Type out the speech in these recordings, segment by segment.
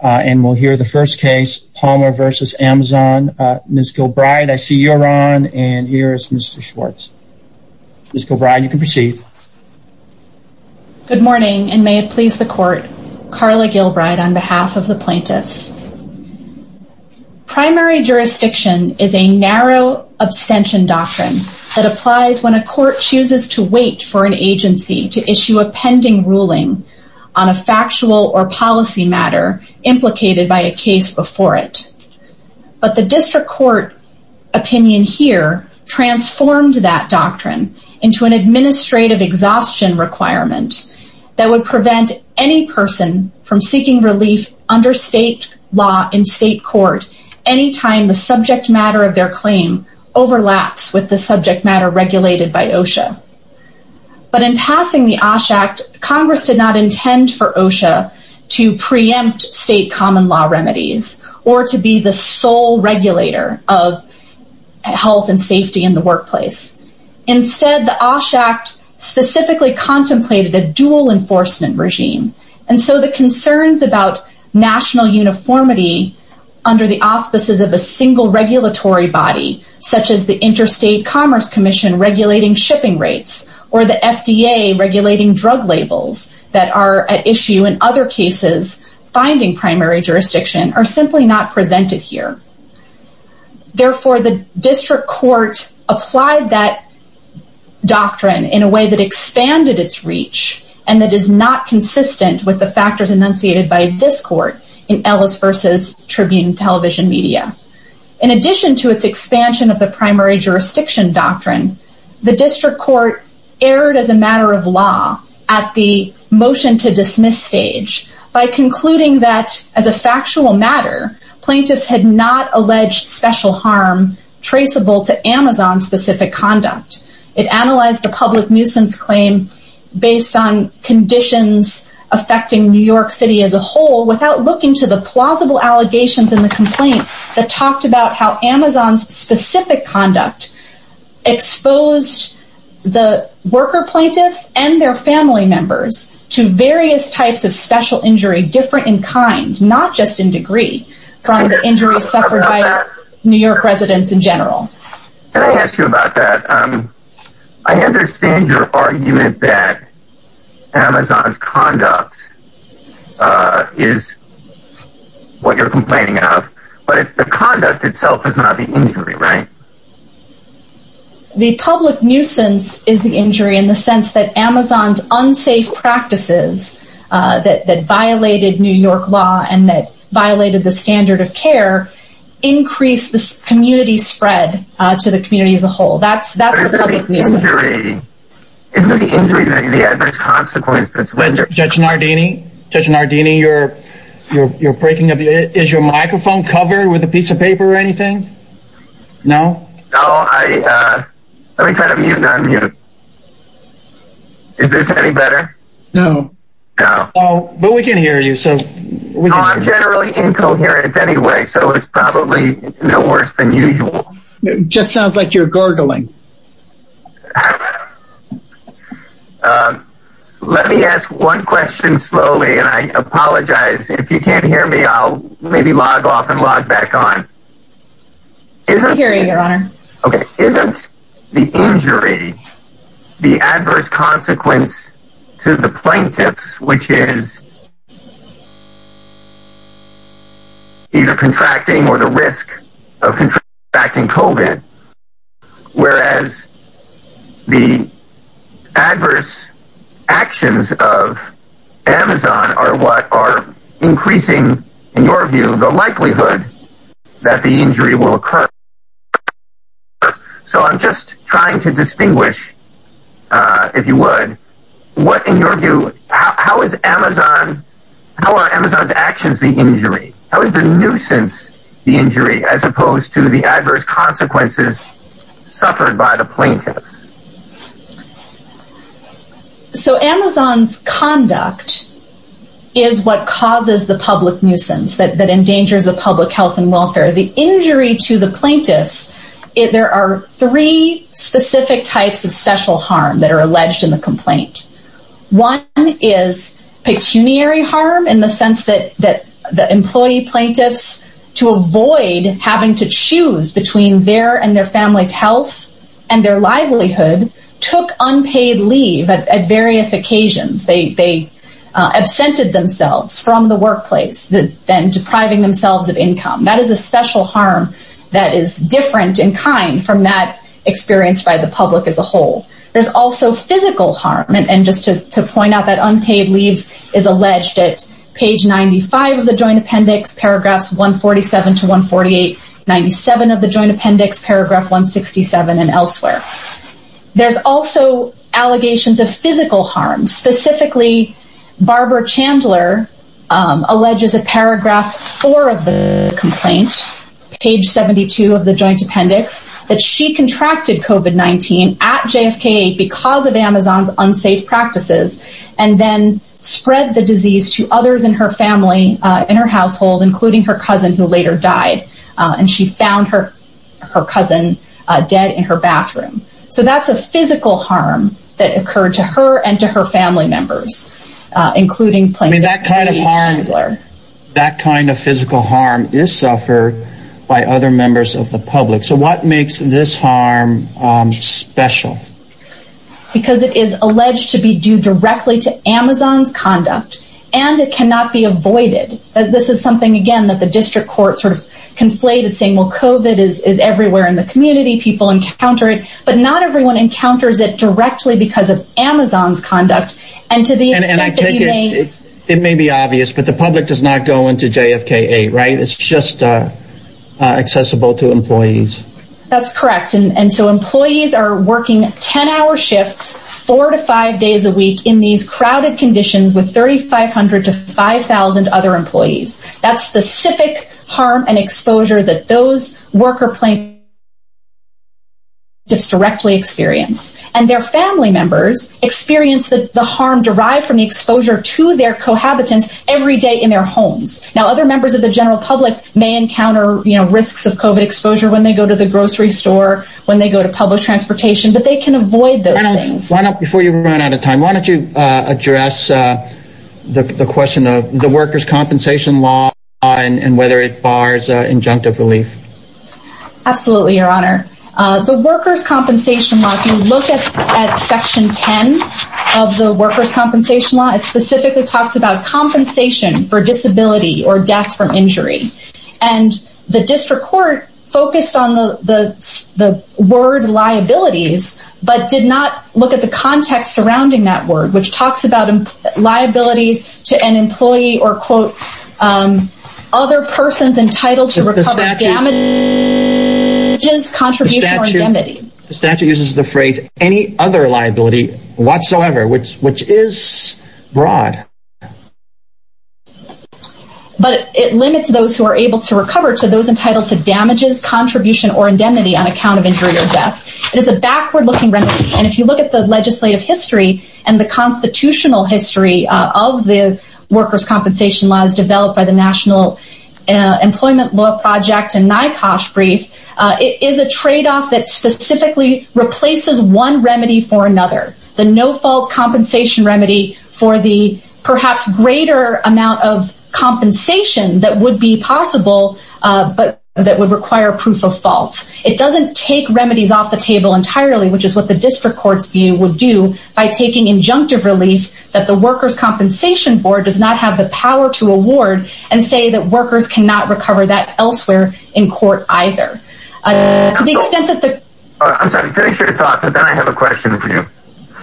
and we'll hear the first case, Palmer v. Amazon. Ms. Gilbride, I see you're on, and here is Mr. Schwartz. Ms. Gilbride, you can proceed. Good morning, and may it please the Court, Carla Gilbride, on behalf of the plaintiffs. Primary jurisdiction is a narrow abstention doctrine that applies when a court chooses to wait for an agency to issue a pending ruling on a factual or policy matter implicated by a case before it. But the district court opinion here transformed that doctrine into an administrative exhaustion requirement that would prevent any person from seeking relief under state law in state court anytime the subject matter of their claim overlaps with subject matter regulated by OSHA. But in passing the OSH Act, Congress did not intend for OSHA to preempt state common law remedies or to be the sole regulator of health and safety in the workplace. Instead, the OSH Act specifically contemplated a dual enforcement regime, and so the concerns about national uniformity under the auspices of a single regulatory body, such as the Interstate Commerce Commission regulating shipping rates or the FDA regulating drug labels that are at issue in other cases finding primary jurisdiction, are simply not presented here. Therefore, the district court applied that doctrine in a way that expanded its reach and that is not consistent with the factors enunciated by this court in Ellis vs. Tribune television media. In addition to its expansion of the primary jurisdiction doctrine, the district court erred as a matter of law at the motion to dismiss stage by concluding that as a factual matter plaintiffs had not alleged special harm traceable to Amazon-specific conduct. It analyzed the public nuisance claim based on conditions affecting New York City as a whole without looking to the plausible allegations in the complaint that talked about how Amazon's specific conduct exposed the worker plaintiffs and their family members to various types of special injury different in kind, not just in degree, from the injuries suffered by New York residents in general. Can I ask you about that? I understand your argument that Amazon's conduct is what you're complaining of, but the conduct itself is not the injury, right? The public nuisance is the injury in the sense that Amazon's unsafe practices that violated New York's law and the community spread to the community as a whole. That's the public nuisance. Is the injury the adverse consequence that's rendered? Judge Nardini, Judge Nardini, you're breaking up. Is your microphone covered with a piece of paper or anything? No? No, let me try to mute and unmute. Is this any better? No. But we can hear you. I'm generally incoherent anyway, so it's probably no worse than usual. It just sounds like you're gurgling. Let me ask one question slowly, and I apologize. If you can't hear me, I'll maybe log off and log back on. I can hear you, Your Honor. Okay. Isn't the injury the adverse consequence to the plaintiffs, which is either contracting or the risk of contracting COVID, whereas the adverse actions of Amazon are what are increasing, in your view, the likelihood that the injury will occur? So I'm just trying to distinguish, if you would, what, in your view, how is Amazon how are Amazon's actions the injury? How is the nuisance the injury, as opposed to the adverse consequences suffered by the plaintiffs? So Amazon's conduct is what causes the public nuisance that endangers the public health and welfare. The injury to the plaintiffs, there are three specific types of special harm that are pecuniary harm in the sense that the employee plaintiffs, to avoid having to choose between their and their family's health and their livelihood, took unpaid leave at various occasions. They absented themselves from the workplace, then depriving themselves of income. That is a special harm that is different in kind from that experienced by the public as a whole. There's also physical harm. And just to point out that unpaid leave is alleged at page 95 of the Joint Appendix, paragraphs 147 to 148, 97 of the Joint Appendix, paragraph 167 and elsewhere. There's also allegations of physical harm. Specifically, Barbara Chandler alleges a paragraph four of the complaint, page 72 of the Joint Appendix, that she contracted COVID-19 at JFK because of Amazon's unsafe practices, and then spread the disease to others in her family, in her household, including her cousin, who later died. And she found her, her cousin, dead in her bathroom. So that's a physical harm that occurred to her and to her family members, including plaintiff. That kind of physical harm is suffered by other members of the public. So what makes this harm special? Because it is alleged to be due directly to Amazon's conduct. And it cannot be avoided. This is something, again, that the district court sort of conflated saying, well, COVID is everywhere in the community, people encounter it, but not everyone encounters it directly because of Amazon's conduct. And to the extent that you may... It may be obvious, but the public does not go into JFK, right? It's just accessible to employees. That's correct. And so employees are working 10-hour shifts, four to five days a week in these crowded conditions with 3,500 to 5,000 other employees. That's specific harm and exposure that those worker plaintiffs directly experience. And their family members experience the harm derived from the exposure to their cohabitants every day in their homes. Now, other members of the general public may encounter risks of COVID exposure when they go to the grocery store, when they go to public transportation, but they can avoid those things. Before you run out of time, why don't you address the question of the workers compensation law and whether it bars injunctive relief? Absolutely, Your Honor. The workers compensation law, if you look at section 10 of the workers compensation law, it specifically talks about compensation for disability or death from injury. And the district court focused on the word liabilities, but did not look at the context surrounding that word, which talks about liabilities to an employee or, quote, other persons entitled to recover damages, contribution, or indemnity. The statute uses the phrase any other liability whatsoever, which is broad. But it limits those who are able to recover to those entitled to damages, contribution, or indemnity on account of injury or death. It is a backward-looking remedy. And if you look at the legislative history and the constitutional history of the workers compensation laws developed by the National Employment Law Project and NYCOSH brief, it is a trade-off that specifically replaces one greater amount of compensation that would be possible, but that would require proof of fault. It doesn't take remedies off the table entirely, which is what the district court's view would do by taking injunctive relief that the workers compensation board does not have the power to award and say that workers cannot recover that elsewhere in court either. To the extent that the I'm sorry, finish your thought, but then I have a question for you.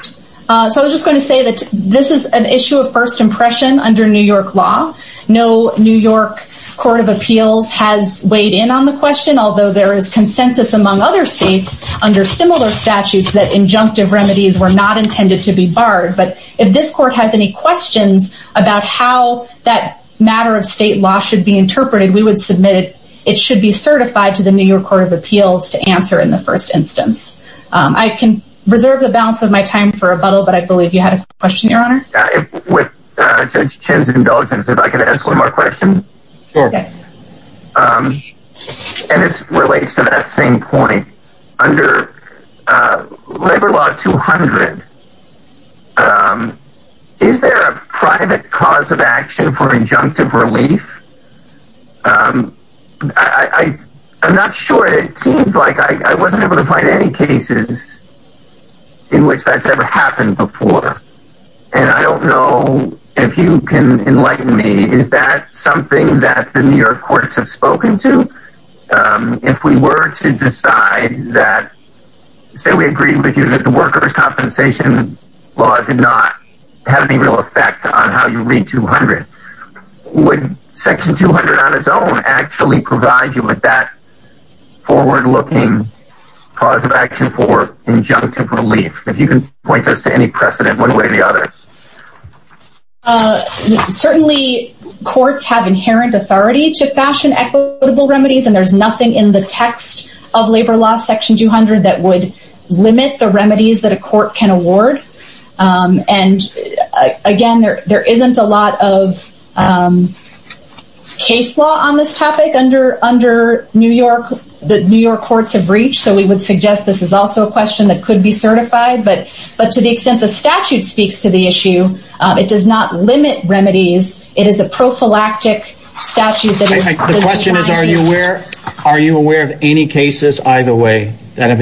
So I was just going to say that this is an issue of first impression under New York law. No New York court of appeals has weighed in on the question, although there is consensus among other states under similar statutes that injunctive remedies were not intended to be barred. But if this court has any questions about how that matter of state law should be interpreted, we would submit it. It should be certified to the New York Court of Appeals to answer in the first instance. I can reserve the balance of my time for rebuttal, but I believe you had a question, your honor. With Judge Chen's indulgence, if I could ask one more question. And it relates to that same point under labor law 200. Is there a private cause of action for injunctive relief? Um, I, I'm not sure it seems like I wasn't able to find any cases in which that's ever happened before. And I don't know if you can enlighten me. Is that something that the New York courts have spoken to? If we were to decide that, say, we agree with you that the workers compensation law did not have any real effect on how you read 200, would section 200 on its own actually provide you with that forward-looking cause of action for injunctive relief? If you can point this to any precedent one way or the other. Uh, certainly courts have inherent authority to fashion equitable remedies and there's nothing in the text of labor law section 200 that would limit the there isn't a lot of, um, case law on this topic under, under New York, the New York courts have reached. So we would suggest this is also a question that could be certified, but, but to the extent the statute speaks to the issue, um, it does not limit remedies. It is a prophylactic statute. The question is, are you aware, are you aware of any cases either way that have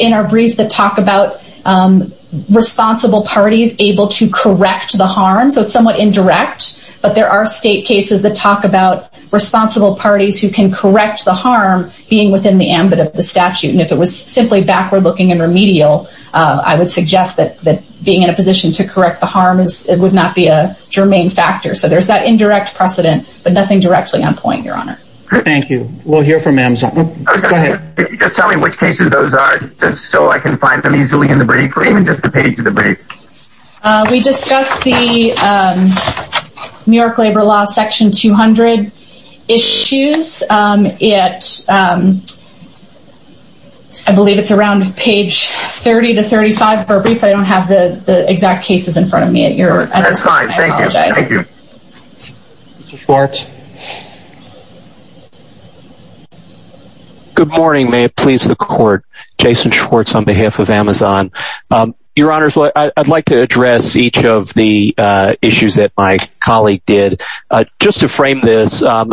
in our brief that talk about, um, responsible parties able to correct the harm. So it's somewhat indirect, but there are state cases that talk about responsible parties who can correct the harm being within the ambit of the statute. And if it was simply backward looking and remedial, uh, I would suggest that, that being in a position to correct the harm is it would not be a germane factor. So there's that indirect precedent, but nothing directly on point your honor. Thank you. We'll hear from Amazon. Just tell me which cases those are just so I can find them easily in the brief or even just the page of the brief. Uh, we discussed the, um, New York labor law section 200 issues. Um, it, um, I believe it's around page 30 to 35 for a brief. I don't have the exact cases in front of me at your side. Thank you. Thank you. Good morning. May it please the court Jason Schwartz on behalf of Amazon. Um, your honors, what I'd like to address each of the, uh, issues that my colleague did, uh, just to frame this, um,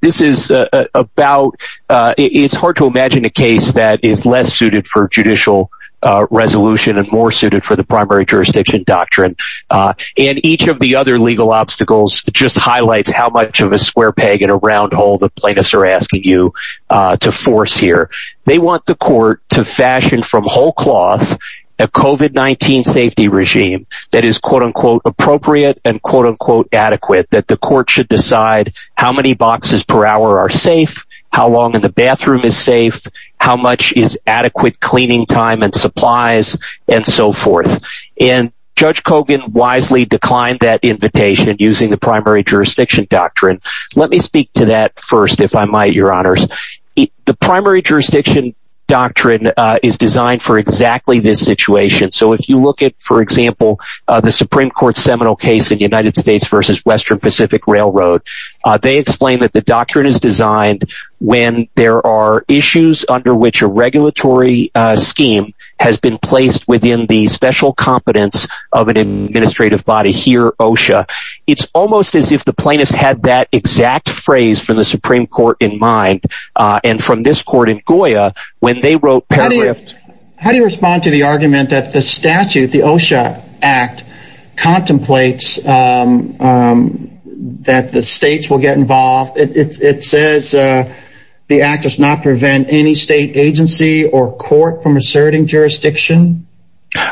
this is, uh, about, uh, it's hard to imagine a case that is less suited for judicial, uh, resolution and more suited for the primary jurisdiction doctrine. Uh, and each of the other legal obstacles just highlights how much of a square peg in a round hole the plaintiffs are asking you, uh, to force here. They want the court to fashion from whole cloth, a COVID-19 safety regime that is quote unquote appropriate and quote unquote adequate that the court should decide how many boxes per hour are safe, how long in the bathroom is safe, how much is adequate cleaning time and supplies and so forth. And judge Kogan wisely declined that invitation using the primary jurisdiction doctrine. Let me speak to that first. If I might, your honors, the primary jurisdiction doctrine, uh, is designed for exactly this situation. So if you look at, for example, uh, the Supreme court seminal case in the United States versus Western Pacific railroad, uh, they explained that the doctrine is designed when there are issues under which a regulatory, uh, scheme has been placed within the special competence of an administrative body here, OSHA. It's almost as if the plaintiffs had that exact phrase from the Supreme court in mind. Uh, and from this court in Goya, when they wrote paragraph, how do you respond to the argument that the statute, the OSHA act contemplates, um, um, that the states will get involved? It, it, it says, uh, the act does not prevent any state agency or court from asserting jurisdiction.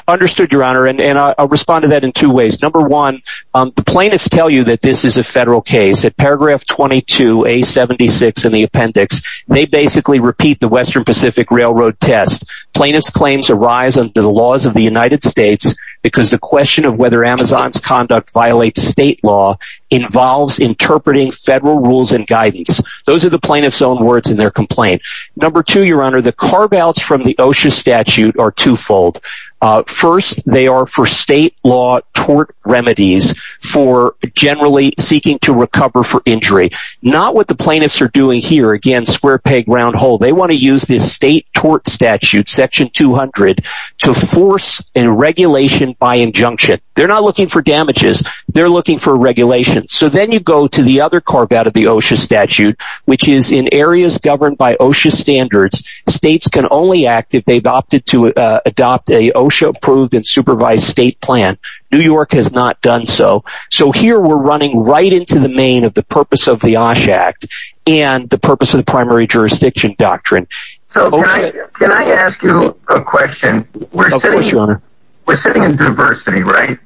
Understood your honor. And I'll respond to that in two ways. Number one, um, the plaintiffs tell you that this is a federal case at paragraph 22, a 76 in the appendix, they basically repeat the Western Pacific railroad test plaintiff's claims arise under the laws of the United States because the question of whether Amazon's conduct violates state law involves interpreting federal rules and guidance. Those are the plaintiff's own words in their complaint. Number two, your honor, the carve-outs from the OSHA statute are twofold. Uh, first they are for state law tort remedies for generally seeking to recover for injury, not what the plaintiffs are doing here. Again, square peg, round hole. They want to use this state tort statute section 200 to force and regulation by injunction. They're not looking for damages. They're looking for regulation. So then you go to the other carve-out of the OSHA statute, which is in areas governed by OSHA standards. States can only act if they've opted to adopt a OSHA approved and supervised state plan. New York has not done so. So here we're running right into the main of the purpose of the OSHA act and the purpose of the primary jurisdiction doctrine. So can I ask you a question? We're sitting in diversity, right?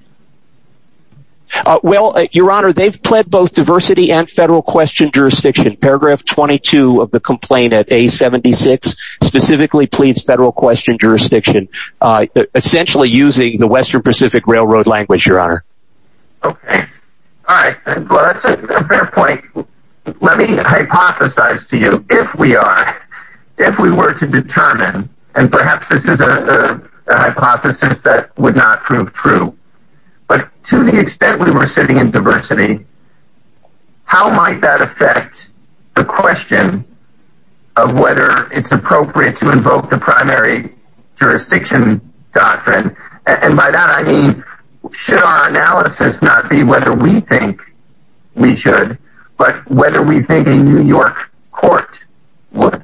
Uh, well, your honor, they've pled both diversity and federal question jurisdiction. Paragraph 22 of the complaint at a 76 specifically pleads federal question jurisdiction, uh, essentially using the Western Pacific railroad language, your honor. Okay. All right. Well, that's a fair point. Let me hypothesize to you if we are, if we were to determine, and perhaps this is a hypothesis that would not prove true, but to the extent we were sitting in diversity, how might that affect the question of whether it's appropriate to invoke the primary jurisdiction doctrine? And by that, I mean, should our analysis not be whether we think we should, but whether we think in New York court. What?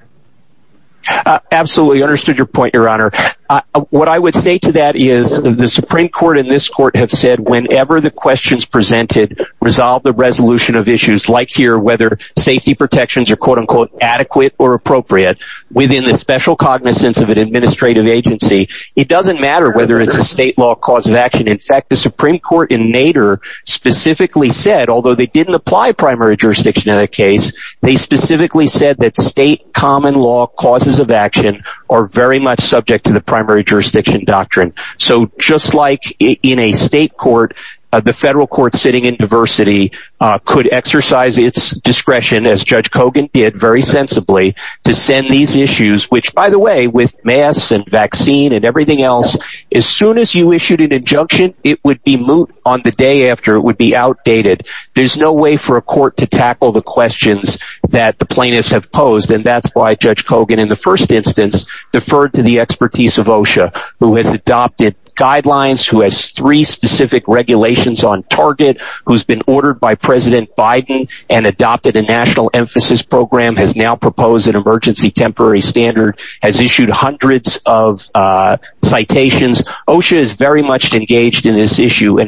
Absolutely understood your point, your honor. Uh, what I would say to that is the Supreme court in this court have said, whenever the questions presented resolve the resolution of issues like here, whether safety protections are quote unquote, adequate or appropriate within the special cognizance of an administrative agency. It doesn't matter whether it's a state law cause of action. In fact, the Supreme court in Nader specifically said, although they didn't apply primary jurisdiction in that case, they specifically said that state common law causes of action are very much subject to the primary jurisdiction doctrine. So just like in a state court, uh, the federal court sitting in diversity, uh, could exercise its discretion as judge Kogan did very sensibly to send these issues, which by the way, with mass and vaccine and everything else, as soon as you issued an injunction, it would be moot on the day after it would be outdated. There's no way for a court to tackle the questions that the plaintiffs have posed. And that's why judge Kogan in the first instance, deferred to the expertise of OSHA, who has adopted guidelines, who has three specific regulations on target, who's been ordered by president Biden and adopted a national emphasis program has now proposed an emergency temporary standard has issued hundreds of, uh, citations. OSHA is very much engaged in this and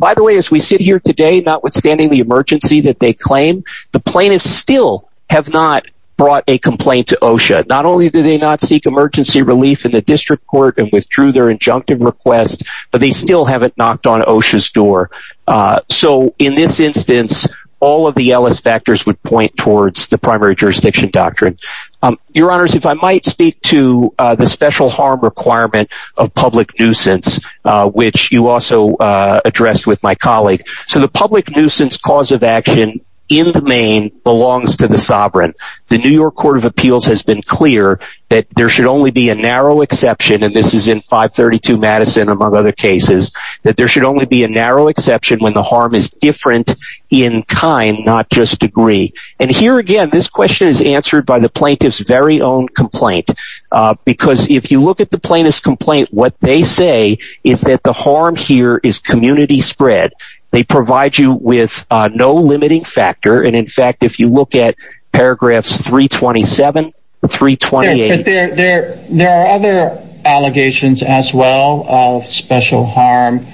by the way, as we sit here today, not withstanding the emergency that they claim, the plaintiffs still have not brought a complaint to OSHA. Not only do they not seek emergency relief in the district court and withdrew their injunctive request, but they still haven't knocked on OSHA's door. Uh, so in this instance, all of the Ellis factors would point towards the primary jurisdiction doctrine. Um, your honors, if I might speak to, uh, the special harm requirement of public nuisance, uh, which you also, uh, addressed with my colleague. So the public nuisance cause of action in the main belongs to the sovereign. The New York court of appeals has been clear that there should only be a narrow exception. And this is in five 32 Madison, among other cases that there should only be a narrow exception when the harm is different in kind, not just degree. And here again, this question is answered by the plaintiff's very own complaint. Uh, because if you look at the plaintiff's complaint, what they say is that the harm here is community spread. They provide you with a no limiting factor. And in fact, if you look at paragraphs three 27, three 28, there, there are other allegations as well of special harm.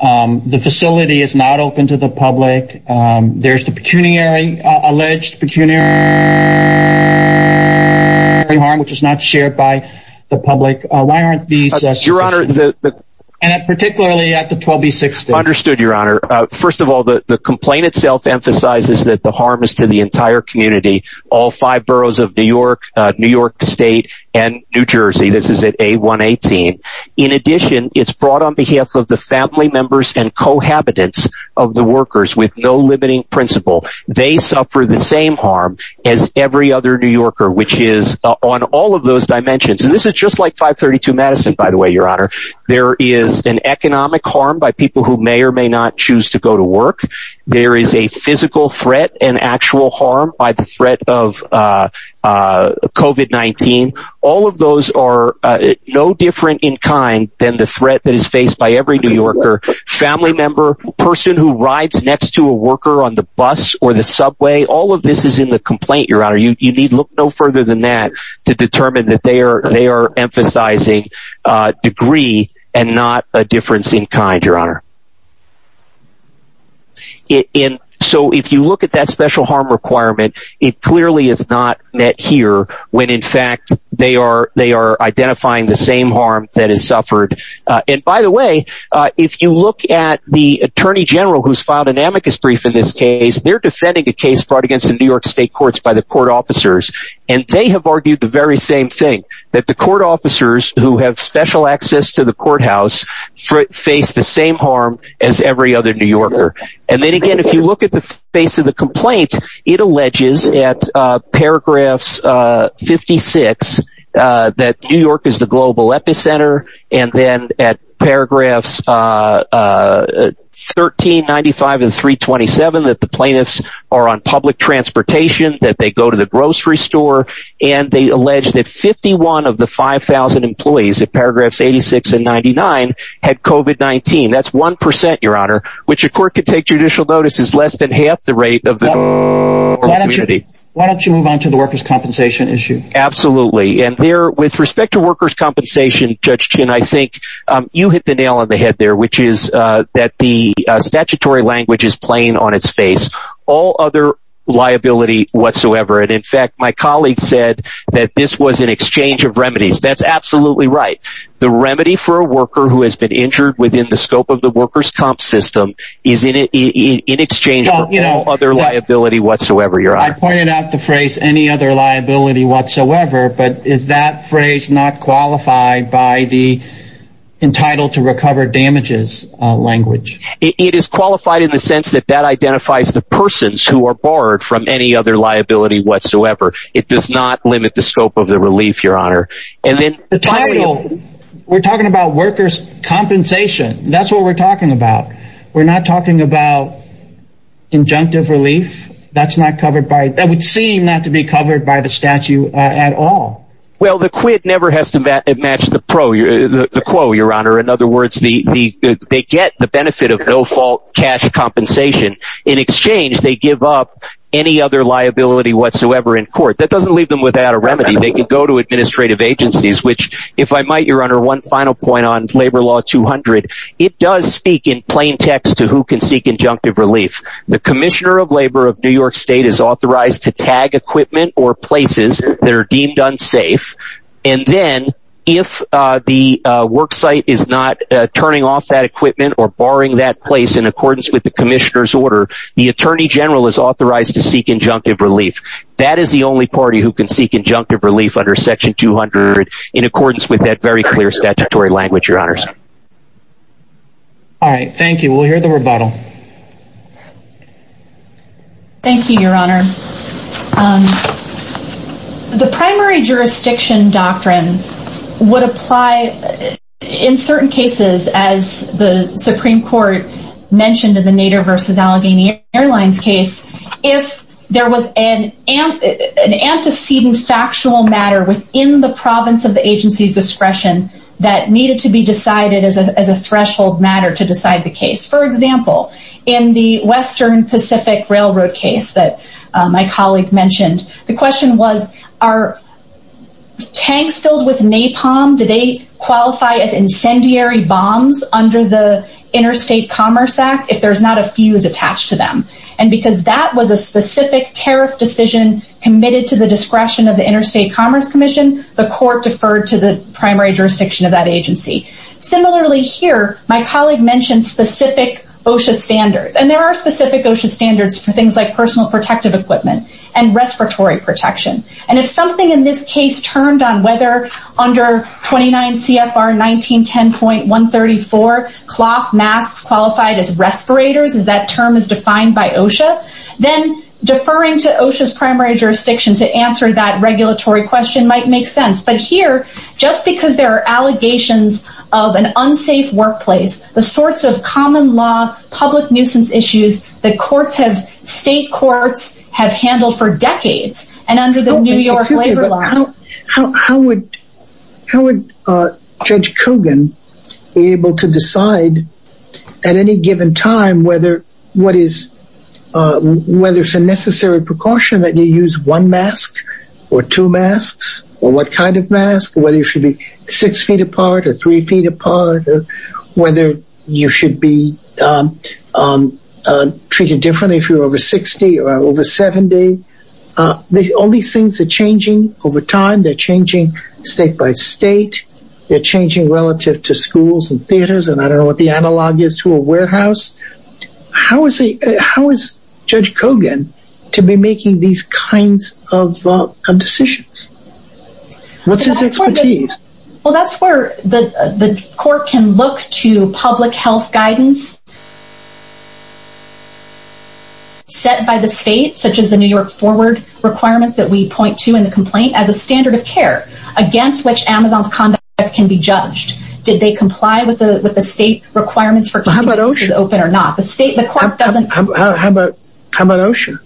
Um, the facility is not open to the public. Um, there's the pecuniary alleged pecuniary harm, which is not shared by the public. Uh, why aren't these your honor? And particularly at the 12th, the 60 understood your honor. Uh, first of all, the complaint itself emphasizes that the harm is to the entire community, all five boroughs of New York, uh, New York state and New Jersey. This is at a one 18. In addition, it's brought on behalf of the family members and cohabitants of the workers with no limiting principle. They suffer the same harm as every other New Yorker, which is on all of those dimensions. And this is just like five 32 Madison, by the way, your honor, there is an economic harm by people who may or may not choose to go to work. There is a physical threat and actual harm by the threat of, uh, uh, COVID-19. All of those are, uh, no different in kind than the threat that is faced by every New Yorker family member, person who rides next to a worker on the bus or the subway. All of this is in the complaint. Your honor, you need look no further than that to determine that they are, they are emphasizing a degree and not a difference in kind, your honor. It in. So if you look at that special harm requirement, it clearly is not met here when in fact they are, they are identifying the same harm that is suffered. Uh, and by the way, uh, if you look at the attorney general, who's filed an amicus brief in this case, they're defending a case brought against the New York state courts by the court officers. And they have argued the very same thing that the court officers who have special access to the courthouse face the same harm as every other New Yorker. And then again, if you look at the face of the complaint, it alleges at, uh, paragraphs, uh, 56, uh, that New York is the global epicenter. And then at paragraphs, uh, uh, 1395 and 327, that the plaintiffs are on public transportation, that they go to the grocery store. And they allege that 51 of the 5,000 employees at paragraphs 86 and 99 had COVID-19 that's 1%, your honor, which a court could take judicial notice is less than half the rate of the community. Why don't you move on to the workers' compensation issue? Absolutely. And there, with respect to workers' compensation, Judge Chin, I think, um, you hit the nail on the head there, which is, uh, that the, uh, statutory language is plain on its face, all other liability whatsoever. And in fact, my colleague said that this was an exchange of remedies. That's absolutely right. The remedy for a worker who has been injured within the scope of the workers' comp system is in it, in exchange for all other liability whatsoever. I pointed out the phrase, any other liability whatsoever, but is that phrase not qualified by the entitled to recover damages language? It is qualified in the sense that that identifies the persons who are barred from any other liability whatsoever. It does not limit the scope of the relief, your honor. And then the title we're talking about workers' compensation. That's what we're talking about. We're not talking about injunctive relief. That's not covered by, that would seem not to be covered by the statute at all. Well, the quit never has to match the pro, the quo, your honor. In other words, the, the, they get the benefit of no fault cash compensation in exchange. They give up any other liability whatsoever in court that doesn't leave them without a remedy. They can go to administrative agencies, which if I might, your honor, one final point on labor law 200, it does speak in plain text to who can seek injunctive relief. The commissioner of labor of New York state is authorized to tag equipment or places that are deemed unsafe. And then if the worksite is not turning off that equipment or barring that place in accordance with the commissioner's order, the attorney general is authorized to seek injunctive relief. That is the only party who can seek injunctive relief under section 200 in accordance with that very clear statutory language, your honors. All right. Thank you. We'll hear the rebuttal. Thank you, your honor. The primary jurisdiction doctrine would apply in certain cases, as the Supreme court mentioned in the Nader versus Allegheny airlines case. If there was an antecedent factual matter within the province of the agency's discretion that needed to be decided as a threshold matter to decide the case. For example, in the Western Pacific railroad case that my colleague mentioned, the question was, are tanks filled with napalm? Do they qualify as incendiary bombs under the interstate commerce act if there's not a fuse attached to them? And because that was a specific tariff decision committed to the discretion of the interstate commerce commission, the court deferred to the primary jurisdiction of that agency. Similarly here, my colleague mentioned specific OSHA standards and there are specific OSHA standards for things like personal protective equipment and respiratory protection. And if something in this case turned on whether under 29 CFR 1910.134 masks qualified as respirators is that term is defined by OSHA, then deferring to OSHA's primary jurisdiction to answer that regulatory question might make sense. But here, just because there are allegations of an unsafe workplace, the sorts of common law public nuisance issues that courts have state courts have handled for decades, and under the New York labor law, how would how would Judge Kogan be able to decide at any given time whether what is whether it's a necessary precaution that you use one mask, or two masks, or what kind of mask whether you should be six feet apart or three feet apart, or whether you should be treated differently if you're over 60 or over 70. All these things are changing over time, they're changing state by state, they're changing relative to schools and theaters, and I don't know what the analog is to a warehouse. How is Judge Kogan to be making these kinds of decisions? Well, that's where the court can look to public health guidance set by the state, such as the New York forward requirements that we point to in the complaint as a standard of care, against which Amazon's conduct can be judged. Did they comply with the with the state requirements for how about open or not the state the court doesn't? How about how about OSHA?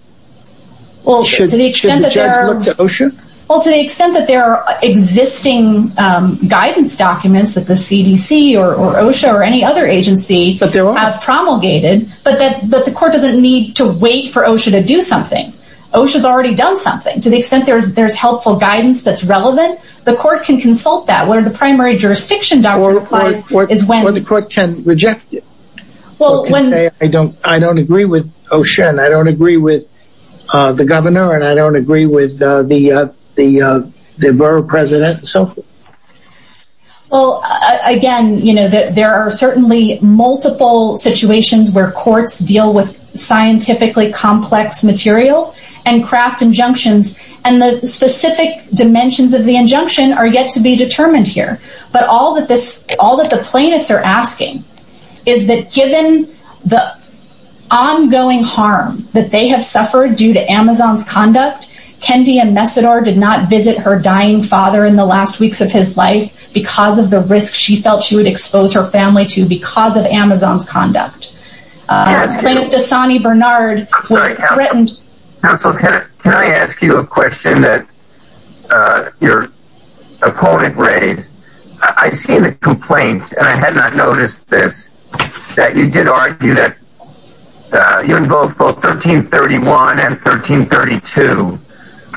Well, to the extent that there are to OSHA, well, to the extent that there are existing guidance documents that the CDC or OSHA or any other agency, but there are promulgated, but that the court doesn't need to wait for OSHA to do something. OSHA has already done something to the extent there's there's helpful guidance that's relevant. The court can consult that where the primary jurisdiction is when the court can reject it. Well, when I don't, I don't agree with OSHA, and I don't agree with the governor, and I don't agree with the, the, the borough president. So, well, again, you know that there are certainly multiple situations where courts deal with scientifically complex material and craft injunctions. And the specific dimensions of the injunction are yet to be determined here. But all that this all that the plaintiffs are asking is that given the ongoing harm that they have suffered due to Amazon's conduct, Kendi and Mesidor did not visit her dying father in the last weeks of his life because of the risk she felt she would expose her family to because of Amazon's conduct. Plaintiff Dasani Bernard was threatened. Counsel, can I ask you a question that your opponent raised? I see the complaint, and I had not noticed this, that you did argue that you invoked both 1331 and 1332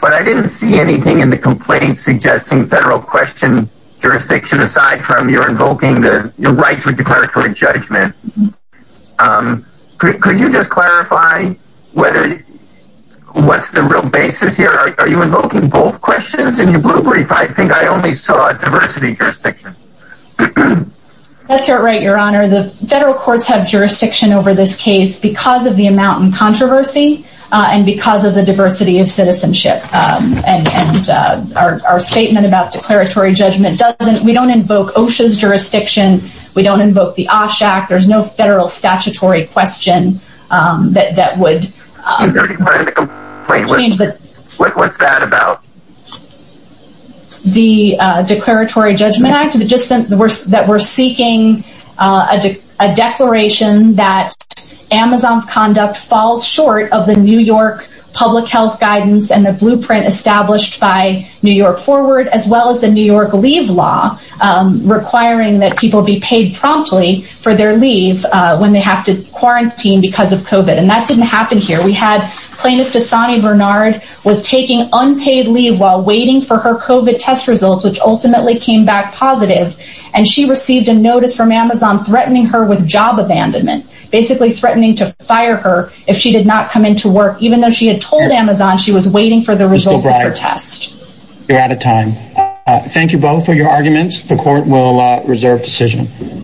but I didn't see anything in the complaint suggesting federal question jurisdiction aside from your invoking the right to declaratory judgment. Could you just clarify whether, what's the real basis here? Are you invoking both questions in your blue brief? I think I only saw a diversity jurisdiction. That's right, your honor. The federal courts have jurisdiction over this case because of the amount in controversy and because of the diversity of citizenship and our statement about declaratory judgment doesn't, we don't invoke OSHA's jurisdiction, we don't invoke the OSHA Act, there's no federal statutory question that would change that. What's that about? The Declaratory Judgment Act, that we're seeking a declaration that Amazon's conduct falls short of the New York public health guidance and the blueprint established by New York Forward as well as the New York Leave Law requiring that people be paid promptly for their leave when they have to quarantine because of COVID and that didn't happen here. We had Plaintiff Dasani Bernard was taking unpaid leave while waiting for her COVID test results which ultimately came back positive and she received a notice from Amazon threatening her with job abandonment, basically threatening to fire her if she did not come into work even though she had told Amazon she was waiting for the results of her test. You're out of time. Thank you both for your arguments, the court will reserve decision.